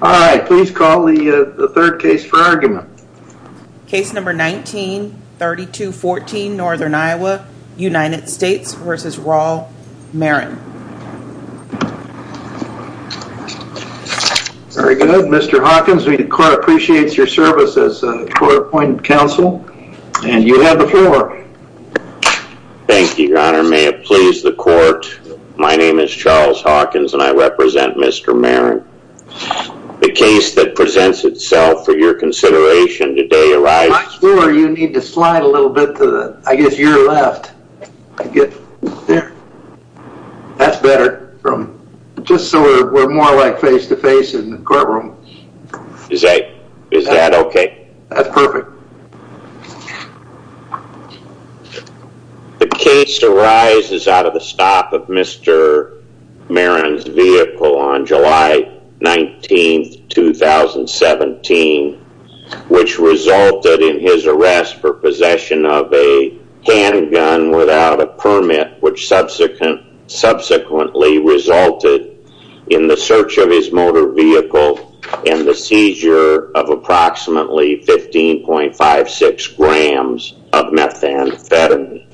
All right, please call the third case for argument. Case number 19-3214, Northern Iowa, United States v. Raul Marin. Very good. Mr. Hawkins, the court appreciates your service as a court-appointed counsel, and you have the floor. Thank you, your honor. May it please the court, My name is Charles Hawkins, and I represent Mr. Marin. The case that presents itself for your consideration today arises... I'm sure you need to slide a little bit to the, I guess, your left. I get there. That's better, from just so we're more like face-to-face in the courtroom. Is that okay? That's perfect. The case arises out of the stop of Mr. Marin's vehicle on July 19, 2017, which resulted in his arrest for possession of a handgun without a permit, which subsequently resulted in the search of his motor vehicle and the seizure of approximately 15.56 grams of methamphetamine.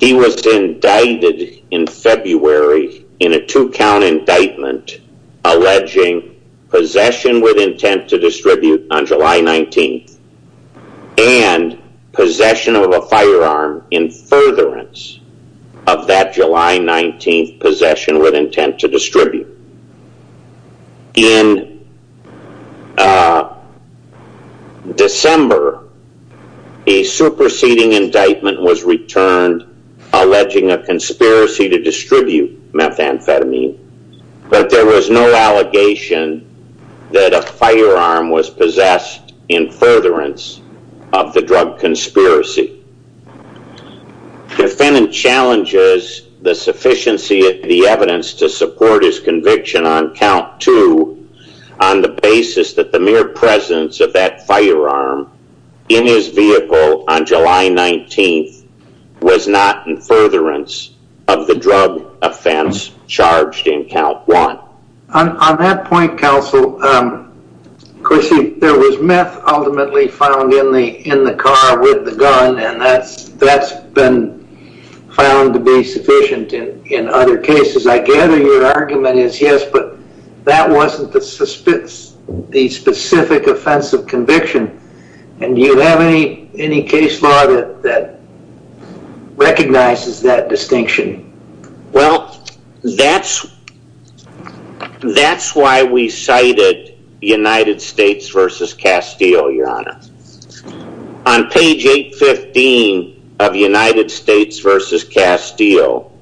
He was indicted in February in a two-count indictment alleging possession with intent to distribute on July 19, and possession of a firearm in furtherance of that July 19 possession with intent to distribute. In December, a superseding indictment was returned alleging a conspiracy to distribute methamphetamine, but there was no allegation that a firearm was possessed in furtherance of the drug conspiracy. The defendant challenges the sufficiency of the evidence to support his conviction on count two on the basis that the mere presence of that firearm in his vehicle on July 19 was not in furtherance of the drug offense charged in count one. On that point, counsel, Chris, there was meth ultimately found in the car with the gun, and that's been found to be sufficient in other cases. I gather your argument is yes, but that wasn't the specific offensive conviction, and do you have any case law that recognizes that distinction? Well, that's why we cited United States versus Castile, Your Honor. On page 815 of United States versus Castile,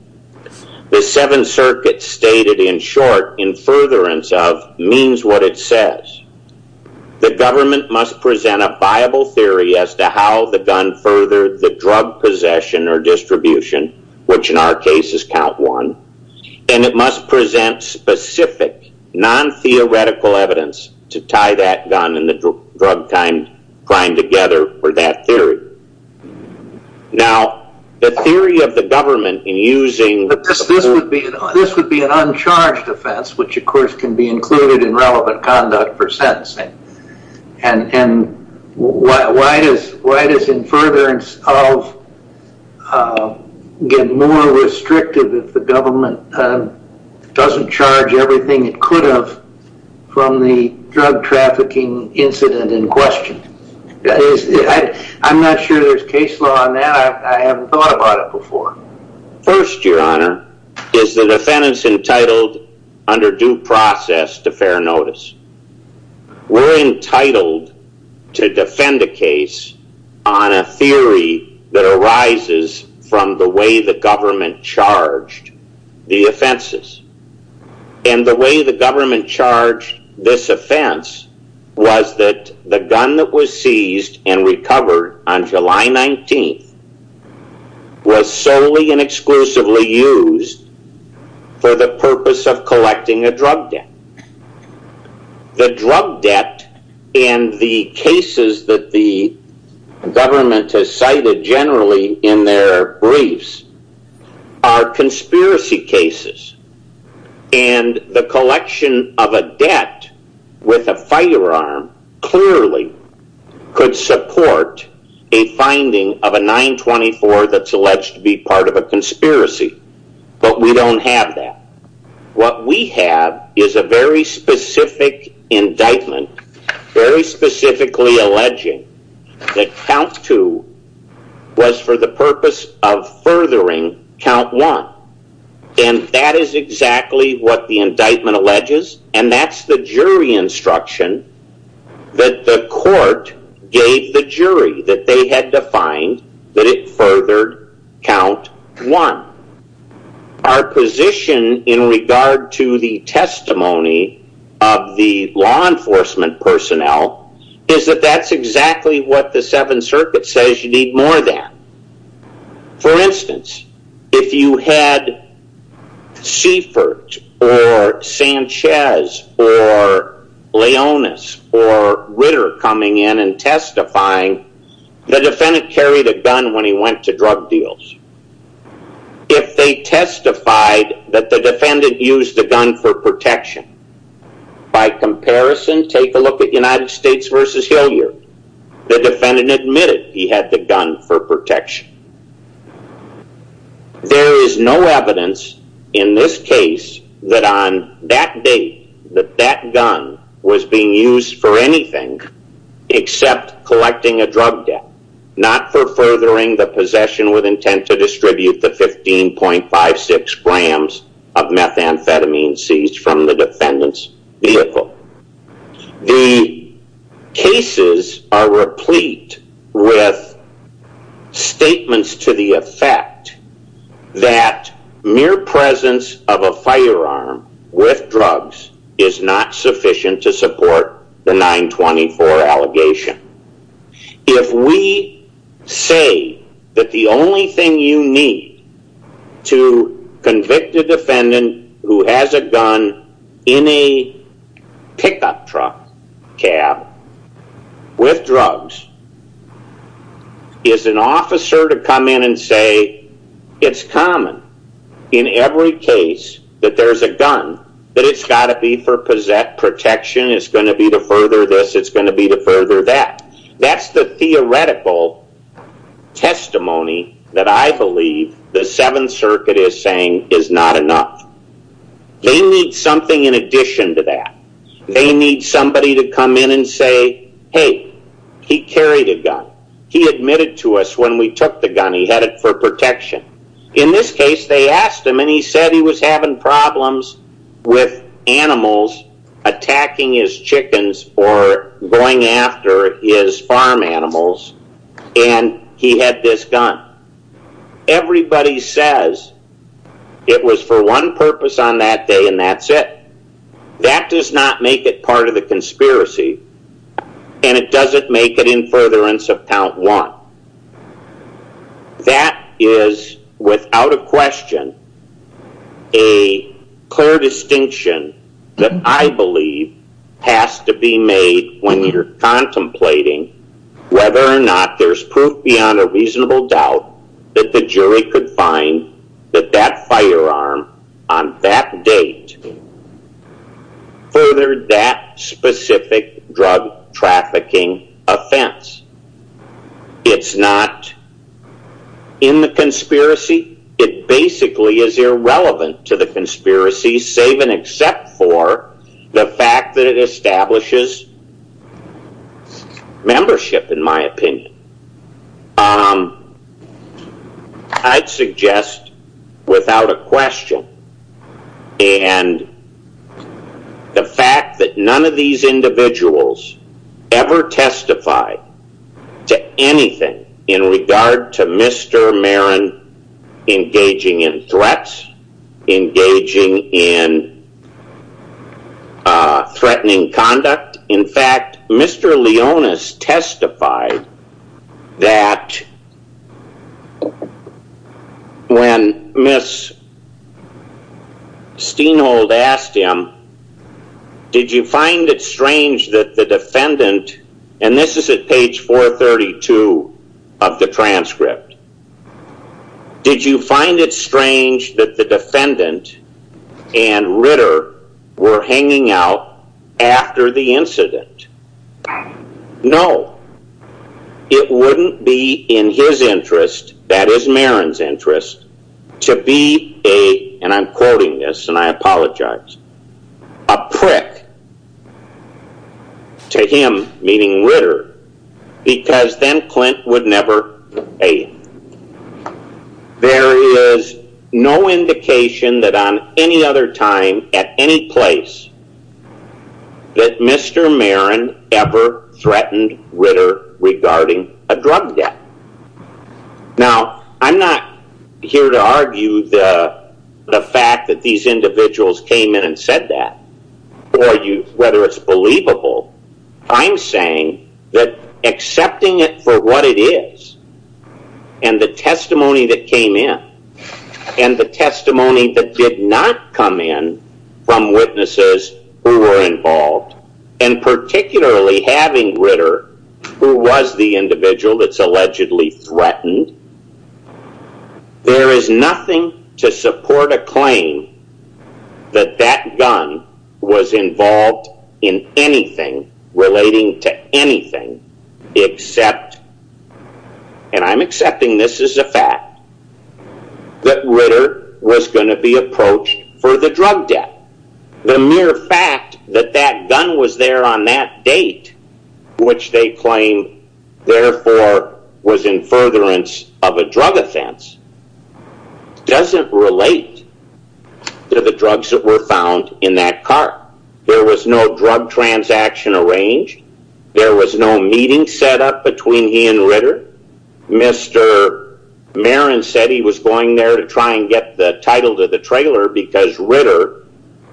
the Seventh Circuit stated in short, in furtherance of, means what it says. The government must present a viable theory as to how the gun furthered the count one, and it must present specific non-theoretical evidence to tie that gun and the drug crime together for that theory. Now, the theory of the government in using- But this would be an uncharged offense, which of course can be included in relevant conduct for sentencing, and why does in furtherance of get more restrictive if the government doesn't charge everything it could have from the drug trafficking incident in question? I'm not sure there's case law on that. I haven't thought about it before. First, Your Honor, is the defendants entitled under due process to fair notice. We're entitled to defend a case on a theory that arises from the way the government charged the offenses, and the way the government charged this offense was that the gun that was seized and recovered on July 19th was solely and exclusively used for the purpose of collecting a drug debt. The drug debt and the cases that the government has cited generally in their briefs are conspiracy cases, and the collection of a debt with a firearm clearly could support a finding of a 924 that's alleged to be part of a conspiracy, but we don't have that. What we have is a very specific indictment, very specifically alleging that count two was for the purpose of count one, and that is exactly what the indictment alleges, and that's the jury instruction that the court gave the jury that they had defined that it furthered count one. Our position in regard to the testimony of the law enforcement personnel is that that's exactly what the Seventh Circuit says you need more than. For instance, if you had Seifert, or Sanchez, or Leonis, or Ritter coming in and testifying, the defendant carried a gun when he went to drug deals. If they testified that the defendant used the gun for protection, by comparison, take a look at United States versus Hilliard. The defendant admitted he had the gun for protection. There is no evidence in this case that on that date that that gun was being used for anything except collecting a drug debt, not for furthering the possession with intent to distribute the 15.56 grams of methamphetamine seized from the defendant's vehicle. The cases are replete with statements to the effect that mere presence of a firearm with drugs is not sufficient to support the 924 allegation. If we say that the only thing you need to convict a defendant who has a gun in a pickup truck cab with drugs is an officer to come in and say it's common in every case that there's a gun, that it's got to be for protection, it's going to be to further this, it's going to be to further that, that's the theoretical testimony that I believe the Seventh Circuit is saying is not enough. They need something in addition to that. They need somebody to come in and say, hey, he carried a gun. He admitted to us when we took the gun, he had it for protection. In this case, they asked him and he said he was having problems with animals attacking his chickens or going after his farm animals and he had this gun. Everybody says it was for one purpose on that day and that's it. That does not make it part of the conspiracy and it doesn't make it in furtherance of count one. That is without a question a clear distinction that I believe has to be made when you're contemplating whether or not there's proof beyond a reasonable doubt that the jury could find that that firearm on that date furthered that specific drug trafficking offense. It's not in the conspiracy. It basically is irrelevant to the conspiracy save and except for the fact that it establishes membership in my opinion. The fact that none of these individuals ever testified to anything in regard to Mr. Marin engaging in threats, engaging in threatening conduct. In fact, Mr. Leonis testified that when Ms. Steinhold asked him, did you find it strange that the defendant and this is at page 432 of the transcript. Did you find it strange that the defendant and Ritter were hanging out after the incident? No. It wouldn't be in his interest, that is Marin's interest, to be a, and I'm quoting this and I apologize, a prick to him, meaning Ritter, because then Clint would never pay him. There is no indication that on any other time at any place that Mr. Marin ever threatened Ritter regarding a drug debt. Now, I'm not here to argue the fact that these individuals came in and said that or whether it's believable. I'm saying that accepting it for what it is and the testimony that came in and the testimony that did not come in from and particularly having Ritter, who was the individual that's allegedly threatened, there is nothing to support a claim that that gun was involved in anything relating to anything except, and I'm accepting this as a fact, that Ritter was going to be approached for the drug debt. The mere fact that that gun was there on that date, which they claim therefore was in furtherance of a drug offense, doesn't relate to the drugs that were found in that car. There was no drug transaction arranged. There was no meeting set up between he and Ritter. Mr. Marin said he was going there to try and get the title to the trailer because Ritter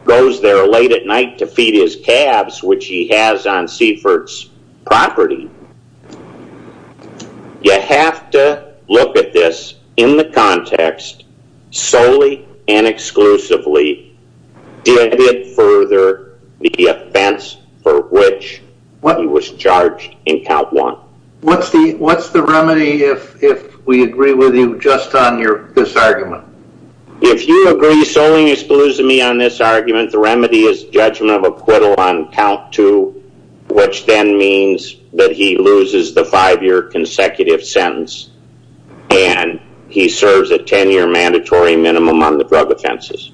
goes there late at night to feed his calves, which he has on Seifert's property. You have to look at this in the context solely and exclusively, did it further the offense for which he was charged in count one. What's the remedy if we agree with you just on this argument? If you agree solely and exclusively on this argument, the remedy is judgment of acquittal on count two, which then means that he loses the five-year consecutive sentence and he serves a 10-year mandatory minimum on the drug offenses.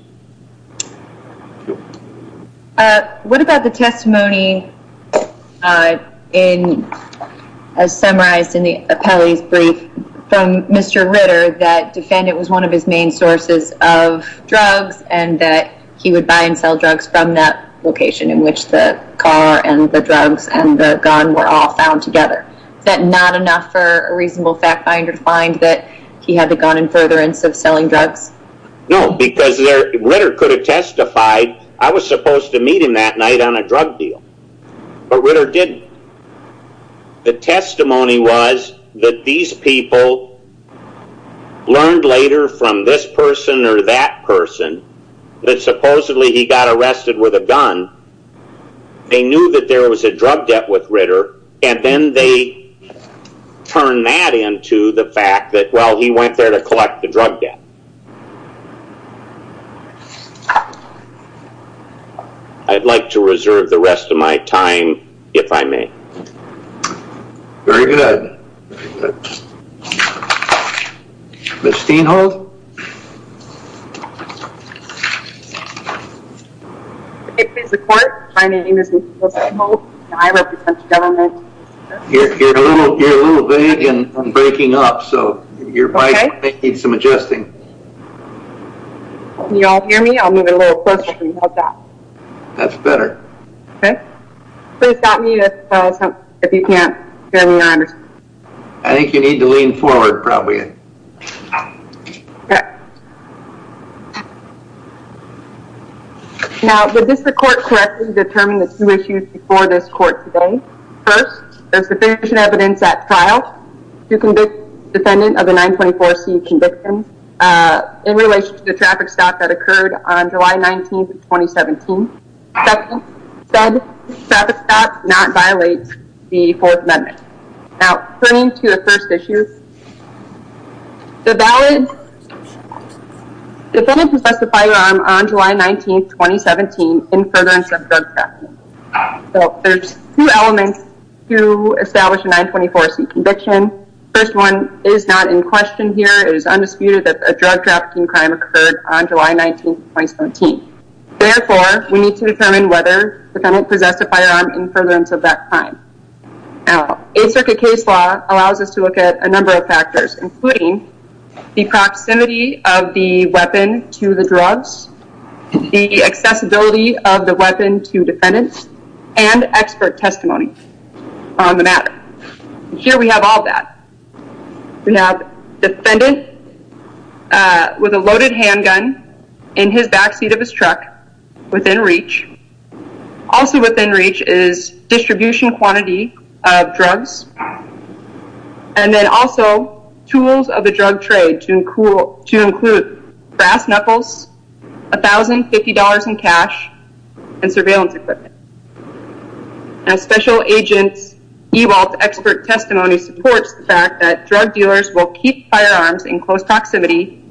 What about the testimony as summarized in the appellee's brief from Mr. Ritter that defendant was one of his main sources of drugs and that he would buy and sell drugs from that location in which the car and the drugs and the gun were all found together. Is that not enough for a reasonable fact finder to find that he had the gun in furtherance of selling drugs? No, because Ritter could have testified, I was supposed to meet him that night on a drug deal, but Ritter didn't. The testimony was that these people learned later from this person or that person that supposedly he got arrested with a gun. They knew that there was a drug debt with Ritter and then they turned that into the fact that, well, he went there to collect the drug debt. I'd like to reserve the rest of my time, if I may. Very good. Ms. Steenhold? You're a little vague and I'm breaking up, so your mic may need some adjusting. Can you all hear me? I'll move it a little closer. That's better. I think you need to lean forward probably. Okay. Now, did this court correctly determine the two issues before this court today? First, there's sufficient evidence at trial to convict the defendant of a 924c conviction in relation to the traffic stop that occurred on July 19, 2017. Second, traffic stops do not violate the Fourth Amendment. Now, turning to the first issue, the defendant possessed a firearm on July 19, 2017 in furtherance of drug trafficking. There's two elements to establish a 924c conviction. The first one is not in question here. It is undisputed that a drug trafficking crime occurred on July 19, 2017. Therefore, we need to determine whether the defendant possessed a firearm in furtherance of that crime. Now, Eighth Circuit case law allows us to look at a number of factors, including the proximity of the weapon to the drugs, the accessibility of the weapon to defendants, and expert testimony on the matter. Here we have all that. We have defendant with a loaded handgun in his backseat of his truck within reach. Also within reach is distribution quantity of drugs, and then also tools of the drug trade to include brass knuckles, $1,050 in cash, and surveillance equipment. Now, Special Agent Ewald's expert testimony supports the fact that drug dealers will keep firearms in close proximity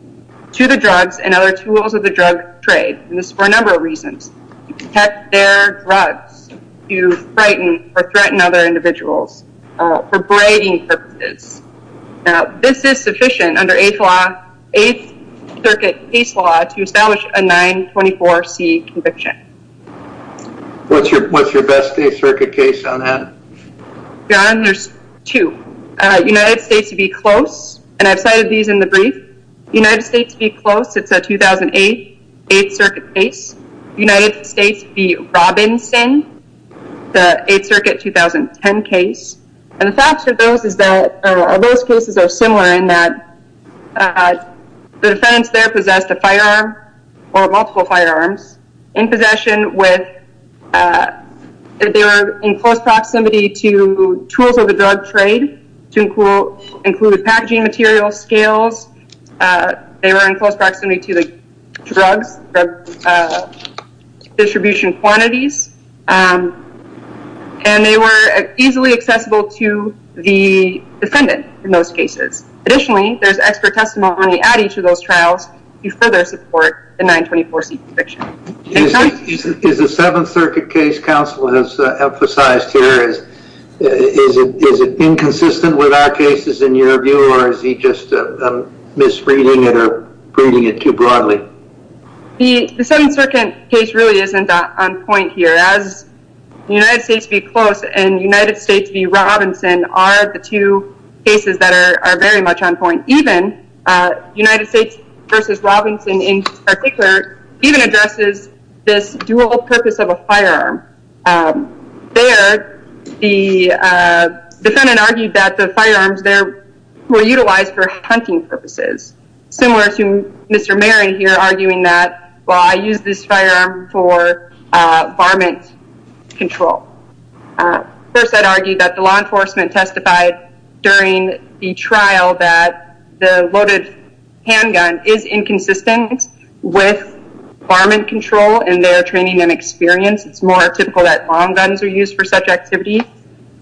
to the drugs and other tools of drug trade for a number of reasons. To protect their drugs, to frighten or threaten other individuals for braiding purposes. Now, this is sufficient under Eighth Circuit case law to establish a 924c conviction. What's your best Eighth Circuit case on that? Your Honor, there's two. United States v. Close, and I've cited these in the brief. United States v. Close, it's a 2008 Eighth Circuit case. United States v. Robinson, the Eighth Circuit 2010 case. And the fact of those is that those cases are similar in that the defendants there possessed a firearm, or multiple firearms, in possession with, they were in close proximity to tools of drug trade to include packaging materials, scales, they were in close proximity to the drugs, the distribution quantities, and they were easily accessible to the defendant in those cases. Additionally, there's expert testimony at each of those trials to further support the 924c conviction. Is the Seventh Circuit case counsel has emphasized here, is it inconsistent with our cases in your view, or is he just misreading it or reading it too broadly? The Seventh Circuit case really isn't on point here. As United States v. Close and United States v. Robinson are the two cases that are very much on point. Even United States v. Robinson in particular, even addresses this dual purpose of a firearm. There, the defendant argued that the firearms there were utilized for hunting purposes. Similar to Mr. Marin here arguing that, well, I use this firearm for varmint control. First, I'd argue that the law enforcement testified during the trial that the loaded handgun is inconsistent with varmint control in their training and experience. It's more typical that long guns are used for such activities.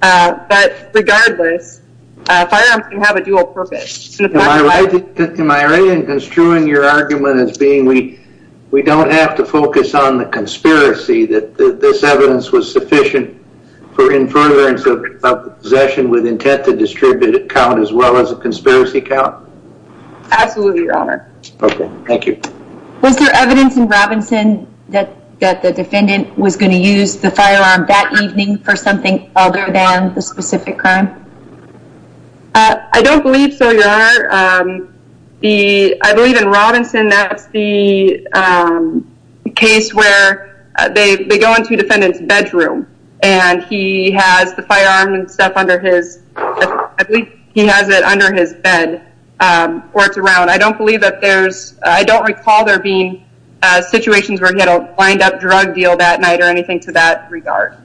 But regardless, firearms can have a dual purpose. Am I right in construing your argument as being we don't have to focus on the conspiracy that this evidence was sufficient for inference of possession with intent to distribute it count as well as a conspiracy count? Absolutely, your honor. Okay, thank you. Was there evidence in Robinson that the defendant was going to use the firearm that evening for something other than the specific crime? I don't believe so, your honor. I believe in Robinson, that's the case where they go to the defendant's bedroom and he has the firearm and stuff under his, I believe he has it under his bed or it's around. I don't believe that there's, I don't recall there being situations where he had a lined up drug deal that night or anything to that regard.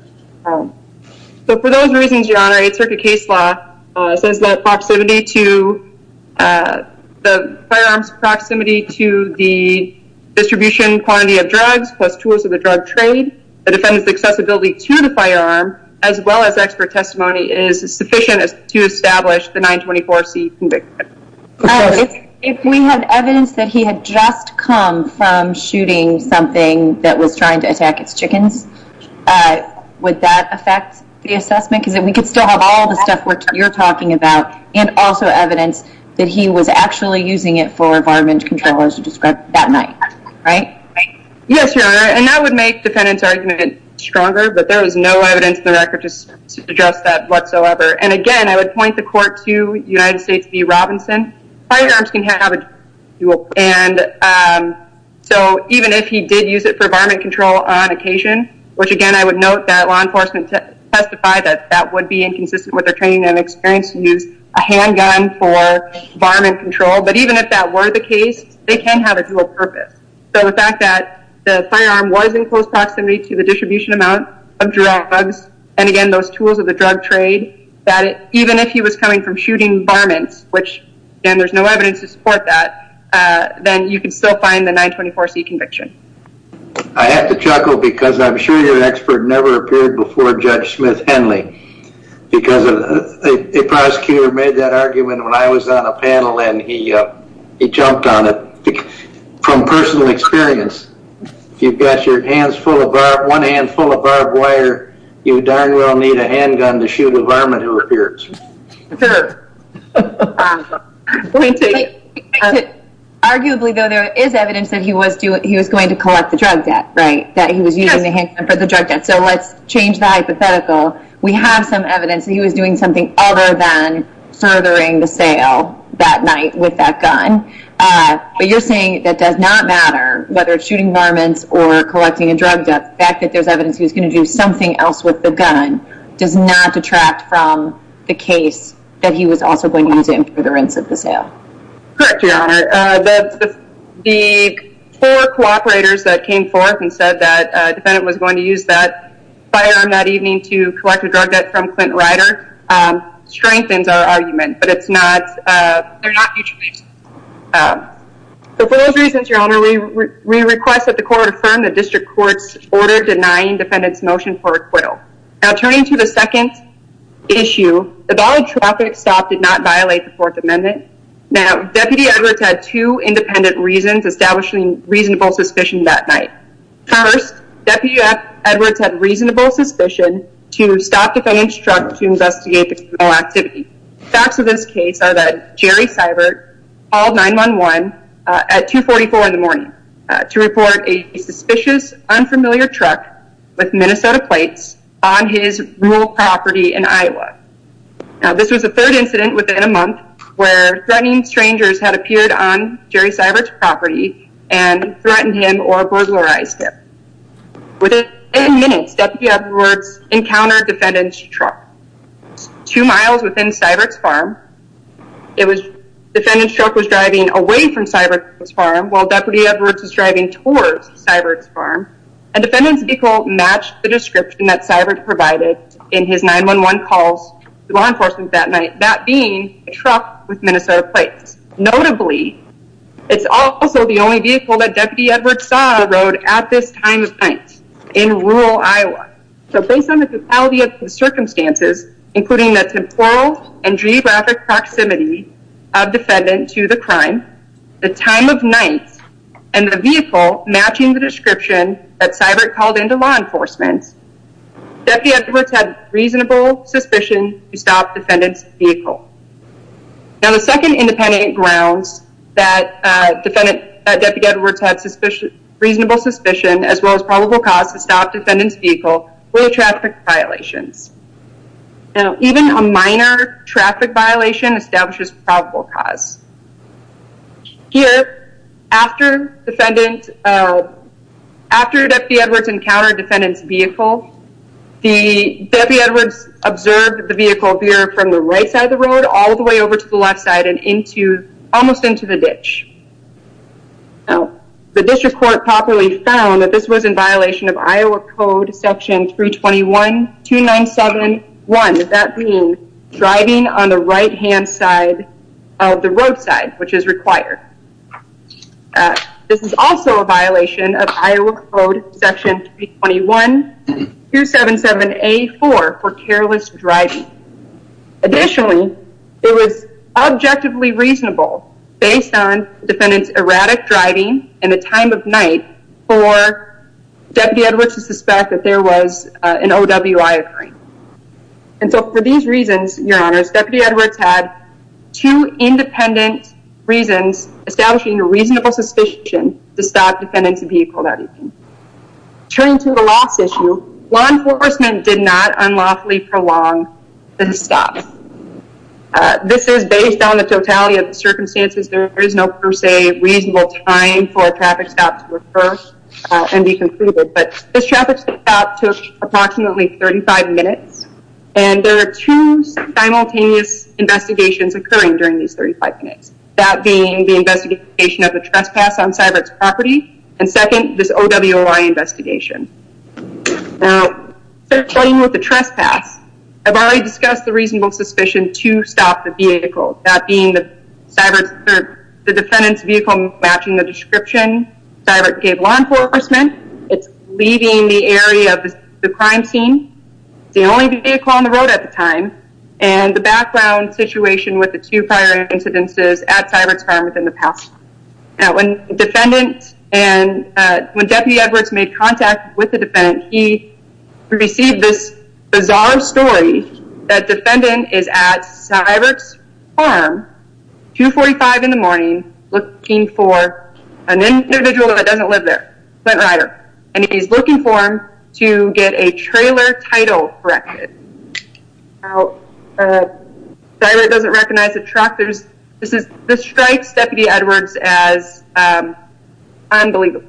So for those reasons, your honor, it's circuit case law says that proximity to the firearms, proximity to the distribution quantity of drugs, plus tours of the drug trade, the defendant's accessibility to the firearm, as well as expert testimony is sufficient to establish the 924C conviction. If we had evidence that he had just come from shooting something that was trying to attack its chickens, would that affect the assessment? Because then we could still have all the stuff which you're talking about and also evidence that he was actually using it for environment control as you described that night, right? Yes, your honor. And that would make defendant's argument stronger, but there was no evidence in the record to address that whatsoever. And again, I would point the court to United States v. Robinson. Firearms can have a drug deal. And so even if he did use it for environment control on occasion, which again, I would note that law enforcement testified that that would be inconsistent with their training and experience to handgun for environment control. But even if that were the case, they can have a dual purpose. So the fact that the firearm was in close proximity to the distribution amount of drugs, and again, those tools of the drug trade, that even if he was coming from shooting environments, which then there's no evidence to support that, then you can still find the 924C conviction. I have to chuckle because I'm sure your expert never appeared before Judge Smith Henley because a prosecutor made that argument when I was on a panel and he jumped on it. From personal experience, if you've got your hands full of barbed, one hand full of barbed wire, you darn well need a handgun to shoot a varmint who appears. Arguably though, there is evidence that he was going to collect the drug debt, right? That he was using the handgun for the drug debt. So let's change the hypothetical. We have some evidence that he was doing something other than furthering the sale that night with that gun. But you're saying that does not matter whether it's shooting varmints or collecting a drug debt. The fact that there's evidence he was going to do something else with the gun does not detract from the case that he was also going to use it for the rents of the sale. Correct, your honor. The four cooperators that came forth and said that a defendant was going to use that firearm that evening to collect a drug debt from Clint Rider strengthens our argument, but it's not, they're not mutual agents. So for those reasons, your honor, we request that the court affirm the district court's order denying defendant's motion for acquittal. Now turning to the second issue, the dollar traffic stop did not violate the fourth amendment. Now Deputy Edwards had two independent reasons establishing reasonable suspicion that night. First, Deputy Edwards had reasonable suspicion to stop defendant's truck to investigate the criminal activity. Facts of this case are that Jerry Seibert called 9-1-1 at 2 44 in the morning to report a suspicious unfamiliar truck with Minnesota plates on his rural property in Iowa. Now this was the third incident within a month where threatening strangers had appeared on Jerry Seibert's property and threatened him or burglarized him. Within 10 minutes, Deputy Edwards encountered defendant's truck two miles within Seibert's farm. It was defendant's truck was driving away from Seibert's farm while Deputy Edwards' vehicle matched the description that Seibert provided in his 9-1-1 calls to law enforcement that night, that being a truck with Minnesota plates. Notably, it's also the only vehicle that Deputy Edwards saw on the road at this time of night in rural Iowa. So based on the totality of the circumstances, including the temporal and geographic proximity of defendant to the crime, the time of night, and the vehicle matching the description that Seibert called into law enforcement, Deputy Edwards had reasonable suspicion to stop defendant's vehicle. Now the second independent grounds that Deputy Edwards had reasonable suspicion as well as probable cause to stop defendant's vehicle were traffic violations. Now even a minor traffic violation establishes probable cause. Here, after defendant, after Deputy Edwards encountered defendant's vehicle, the Deputy Edwards observed the vehicle veer from the right side of the road all the way over to the left side and into almost into the ditch. Now the district court properly found that this was in violation of Iowa Code Section 321-297-1, that being driving on the right hand side of the roadside, which is required. This is also a violation of Iowa Code Section 321-277-A-4 for careless driving. Additionally, it was objectively reasonable based on defendant's driving and the time of night for Deputy Edwards to suspect that there was an OWI occurring. And so for these reasons, your honors, Deputy Edwards had two independent reasons establishing a reasonable suspicion to stop defendant's vehicle that evening. Turning to the loss issue, law enforcement did not unlawfully prolong the stop. This is based on the totality of the circumstances. There is no per se reasonable time for a traffic stop to occur and be concluded, but this traffic stop took approximately 35 minutes and there are two simultaneous investigations occurring during these 35 minutes. That being the investigation of the trespass on Cybert's property and second, this OWI investigation. Now starting with the trespass, I've already discussed the reasonable suspicion to stop the vehicle, that being the defendant's vehicle matching the description Cybert gave law enforcement. It's leaving the area of the crime scene, the only vehicle on the road at the time, and the background situation with the two prior incidences at Cybert's farm within the past. Now when defendant and when Deputy Edwards made contact with the defendant, he received this bizarre story that defendant is at Cybert's farm, 2.45 in the morning, looking for an individual that doesn't live there, Clint Rider, and he's looking for him to get a trailer title corrected. Cybert doesn't recognize the truck. This strikes Deputy Edwards as unbelievable.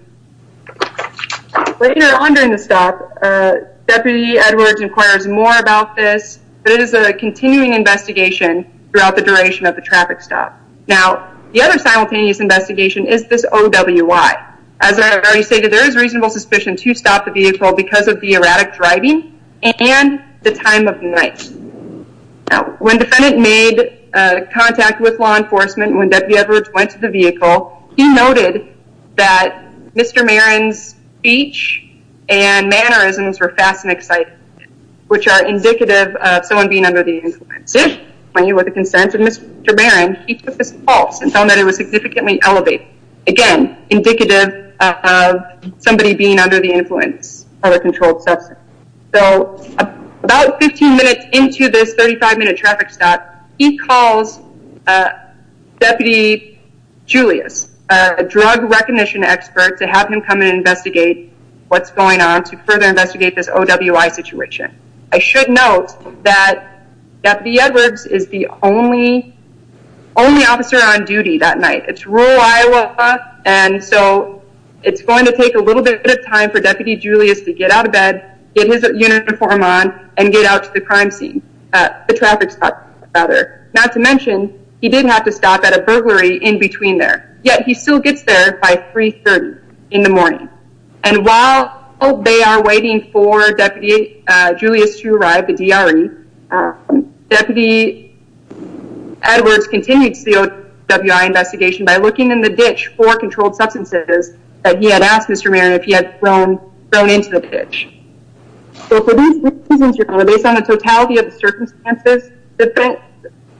Later on during the stop, Deputy Edwards inquires more about this, but it is a continuing investigation throughout the duration of the traffic stop. Now the other simultaneous investigation is this OWI. As I've already stated, there is reasonable suspicion to stop the vehicle because of the erratic driving and the time of night. Now when defendant made contact with law Mr. Marin's speech and mannerisms were fast and exciting, which are indicative of someone being under the influence. When he was a consent of Mr. Marin, he took this false and found that it was significantly elevated. Again, indicative of somebody being under the influence of a controlled substance. So about 15 minutes into this 35-minute traffic stop, he calls Deputy Julius, a drug recognition expert, to have him come and investigate what's going on to further investigate this OWI situation. I should note that Deputy Edwards is the only officer on duty that night. It's rural Iowa, and so it's going to take a little bit of time for Deputy Julius to get out of bed, get his uniform on, and get out to the crime scene, the traffic stop rather. Not to mention, he didn't have to stop at a burglary in between there, yet he still gets there by 3 30 in the morning. And while they are waiting for Deputy Julius to arrive, the DRE, Deputy Edwards continued the OWI investigation by looking in the ditch for controlled substances that he had asked Mr. Marin if he had thrown into the ditch. So for these reasons, based on the totality of the circumstances, the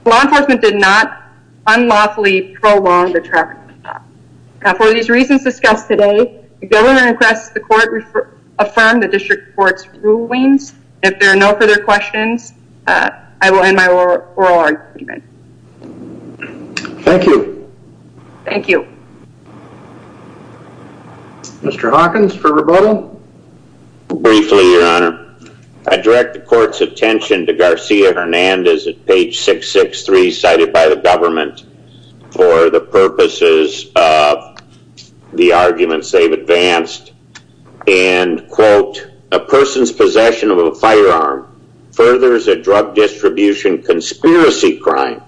law enforcement did not unlawfully prolong the traffic stop. Now for these reasons discussed today, the government requests the court affirm the district court's rulings. If there are no further questions, I will end my oral argument. Thank you. Thank you. Mr. Hawkins for rebuttal. Briefly, your honor. I direct the court's attention to Garcia Hernandez at page 663 cited by the government for the purposes of the arguments they've advanced, and quote, a person's possession of a firearm furthers a drug distribution conspiracy crime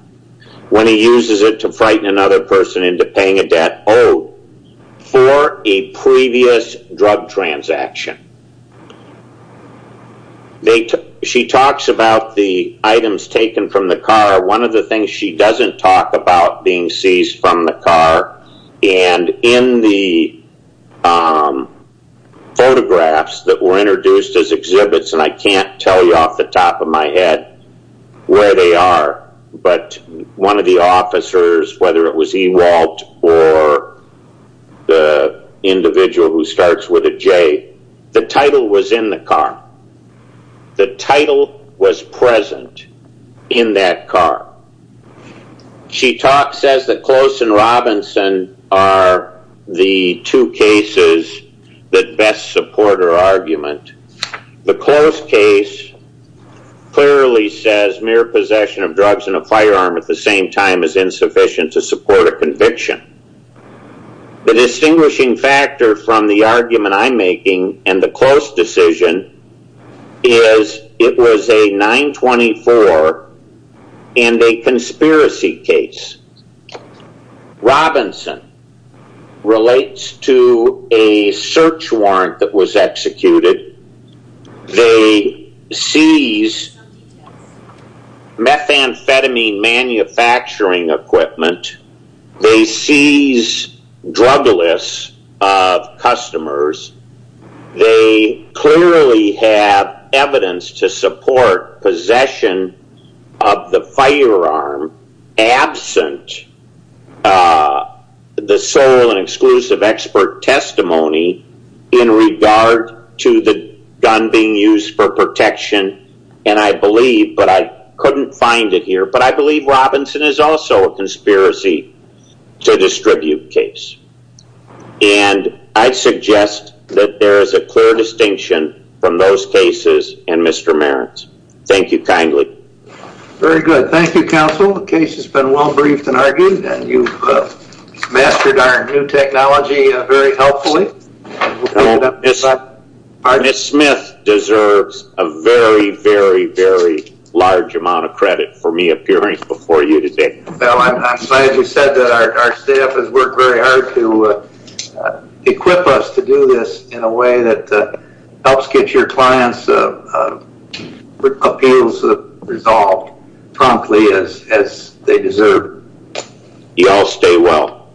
when he uses it to frighten another person into paying a debt owed for a previous drug transaction. She talks about the items taken from the car. One of the things she doesn't talk about being seized from the car and in the photographs that were introduced as exhibits, and I can't tell off the top of my head where they are, but one of the officers, whether it was Ewald or the individual who starts with a J, the title was in the car. The title was present in that car. She says that Close and Robinson are the two cases that best support her argument. The Close case clearly says mere possession of drugs and a firearm at the same time is insufficient to support a conviction. The distinguishing factor from the argument I'm making and the Close decision is it was a 924 and a conspiracy case. Robinson relates to a search warrant that was executed. They seize methamphetamine manufacturing equipment. They seize drug lists of customers. They clearly have evidence to support possession of the firearm absent of which the sole and exclusive expert testimony in regard to the gun being used for protection, and I believe, but I couldn't find it here, but I believe Robinson is also a conspiracy to distribute case, and I suggest that there is a clear distinction from those cases and Mr. Marans. Thank you kindly. Very good. Thank you, counsel. The case has been well briefed and argued, and you've mastered our new technology very helpfully. Ms. Smith deserves a very, very, very large amount of credit for me appearing before you today. I'm glad you said that. Our staff has worked very hard to equip us to do this in a way that helps get your clients' appeals resolved promptly as they deserve. Y'all stay well.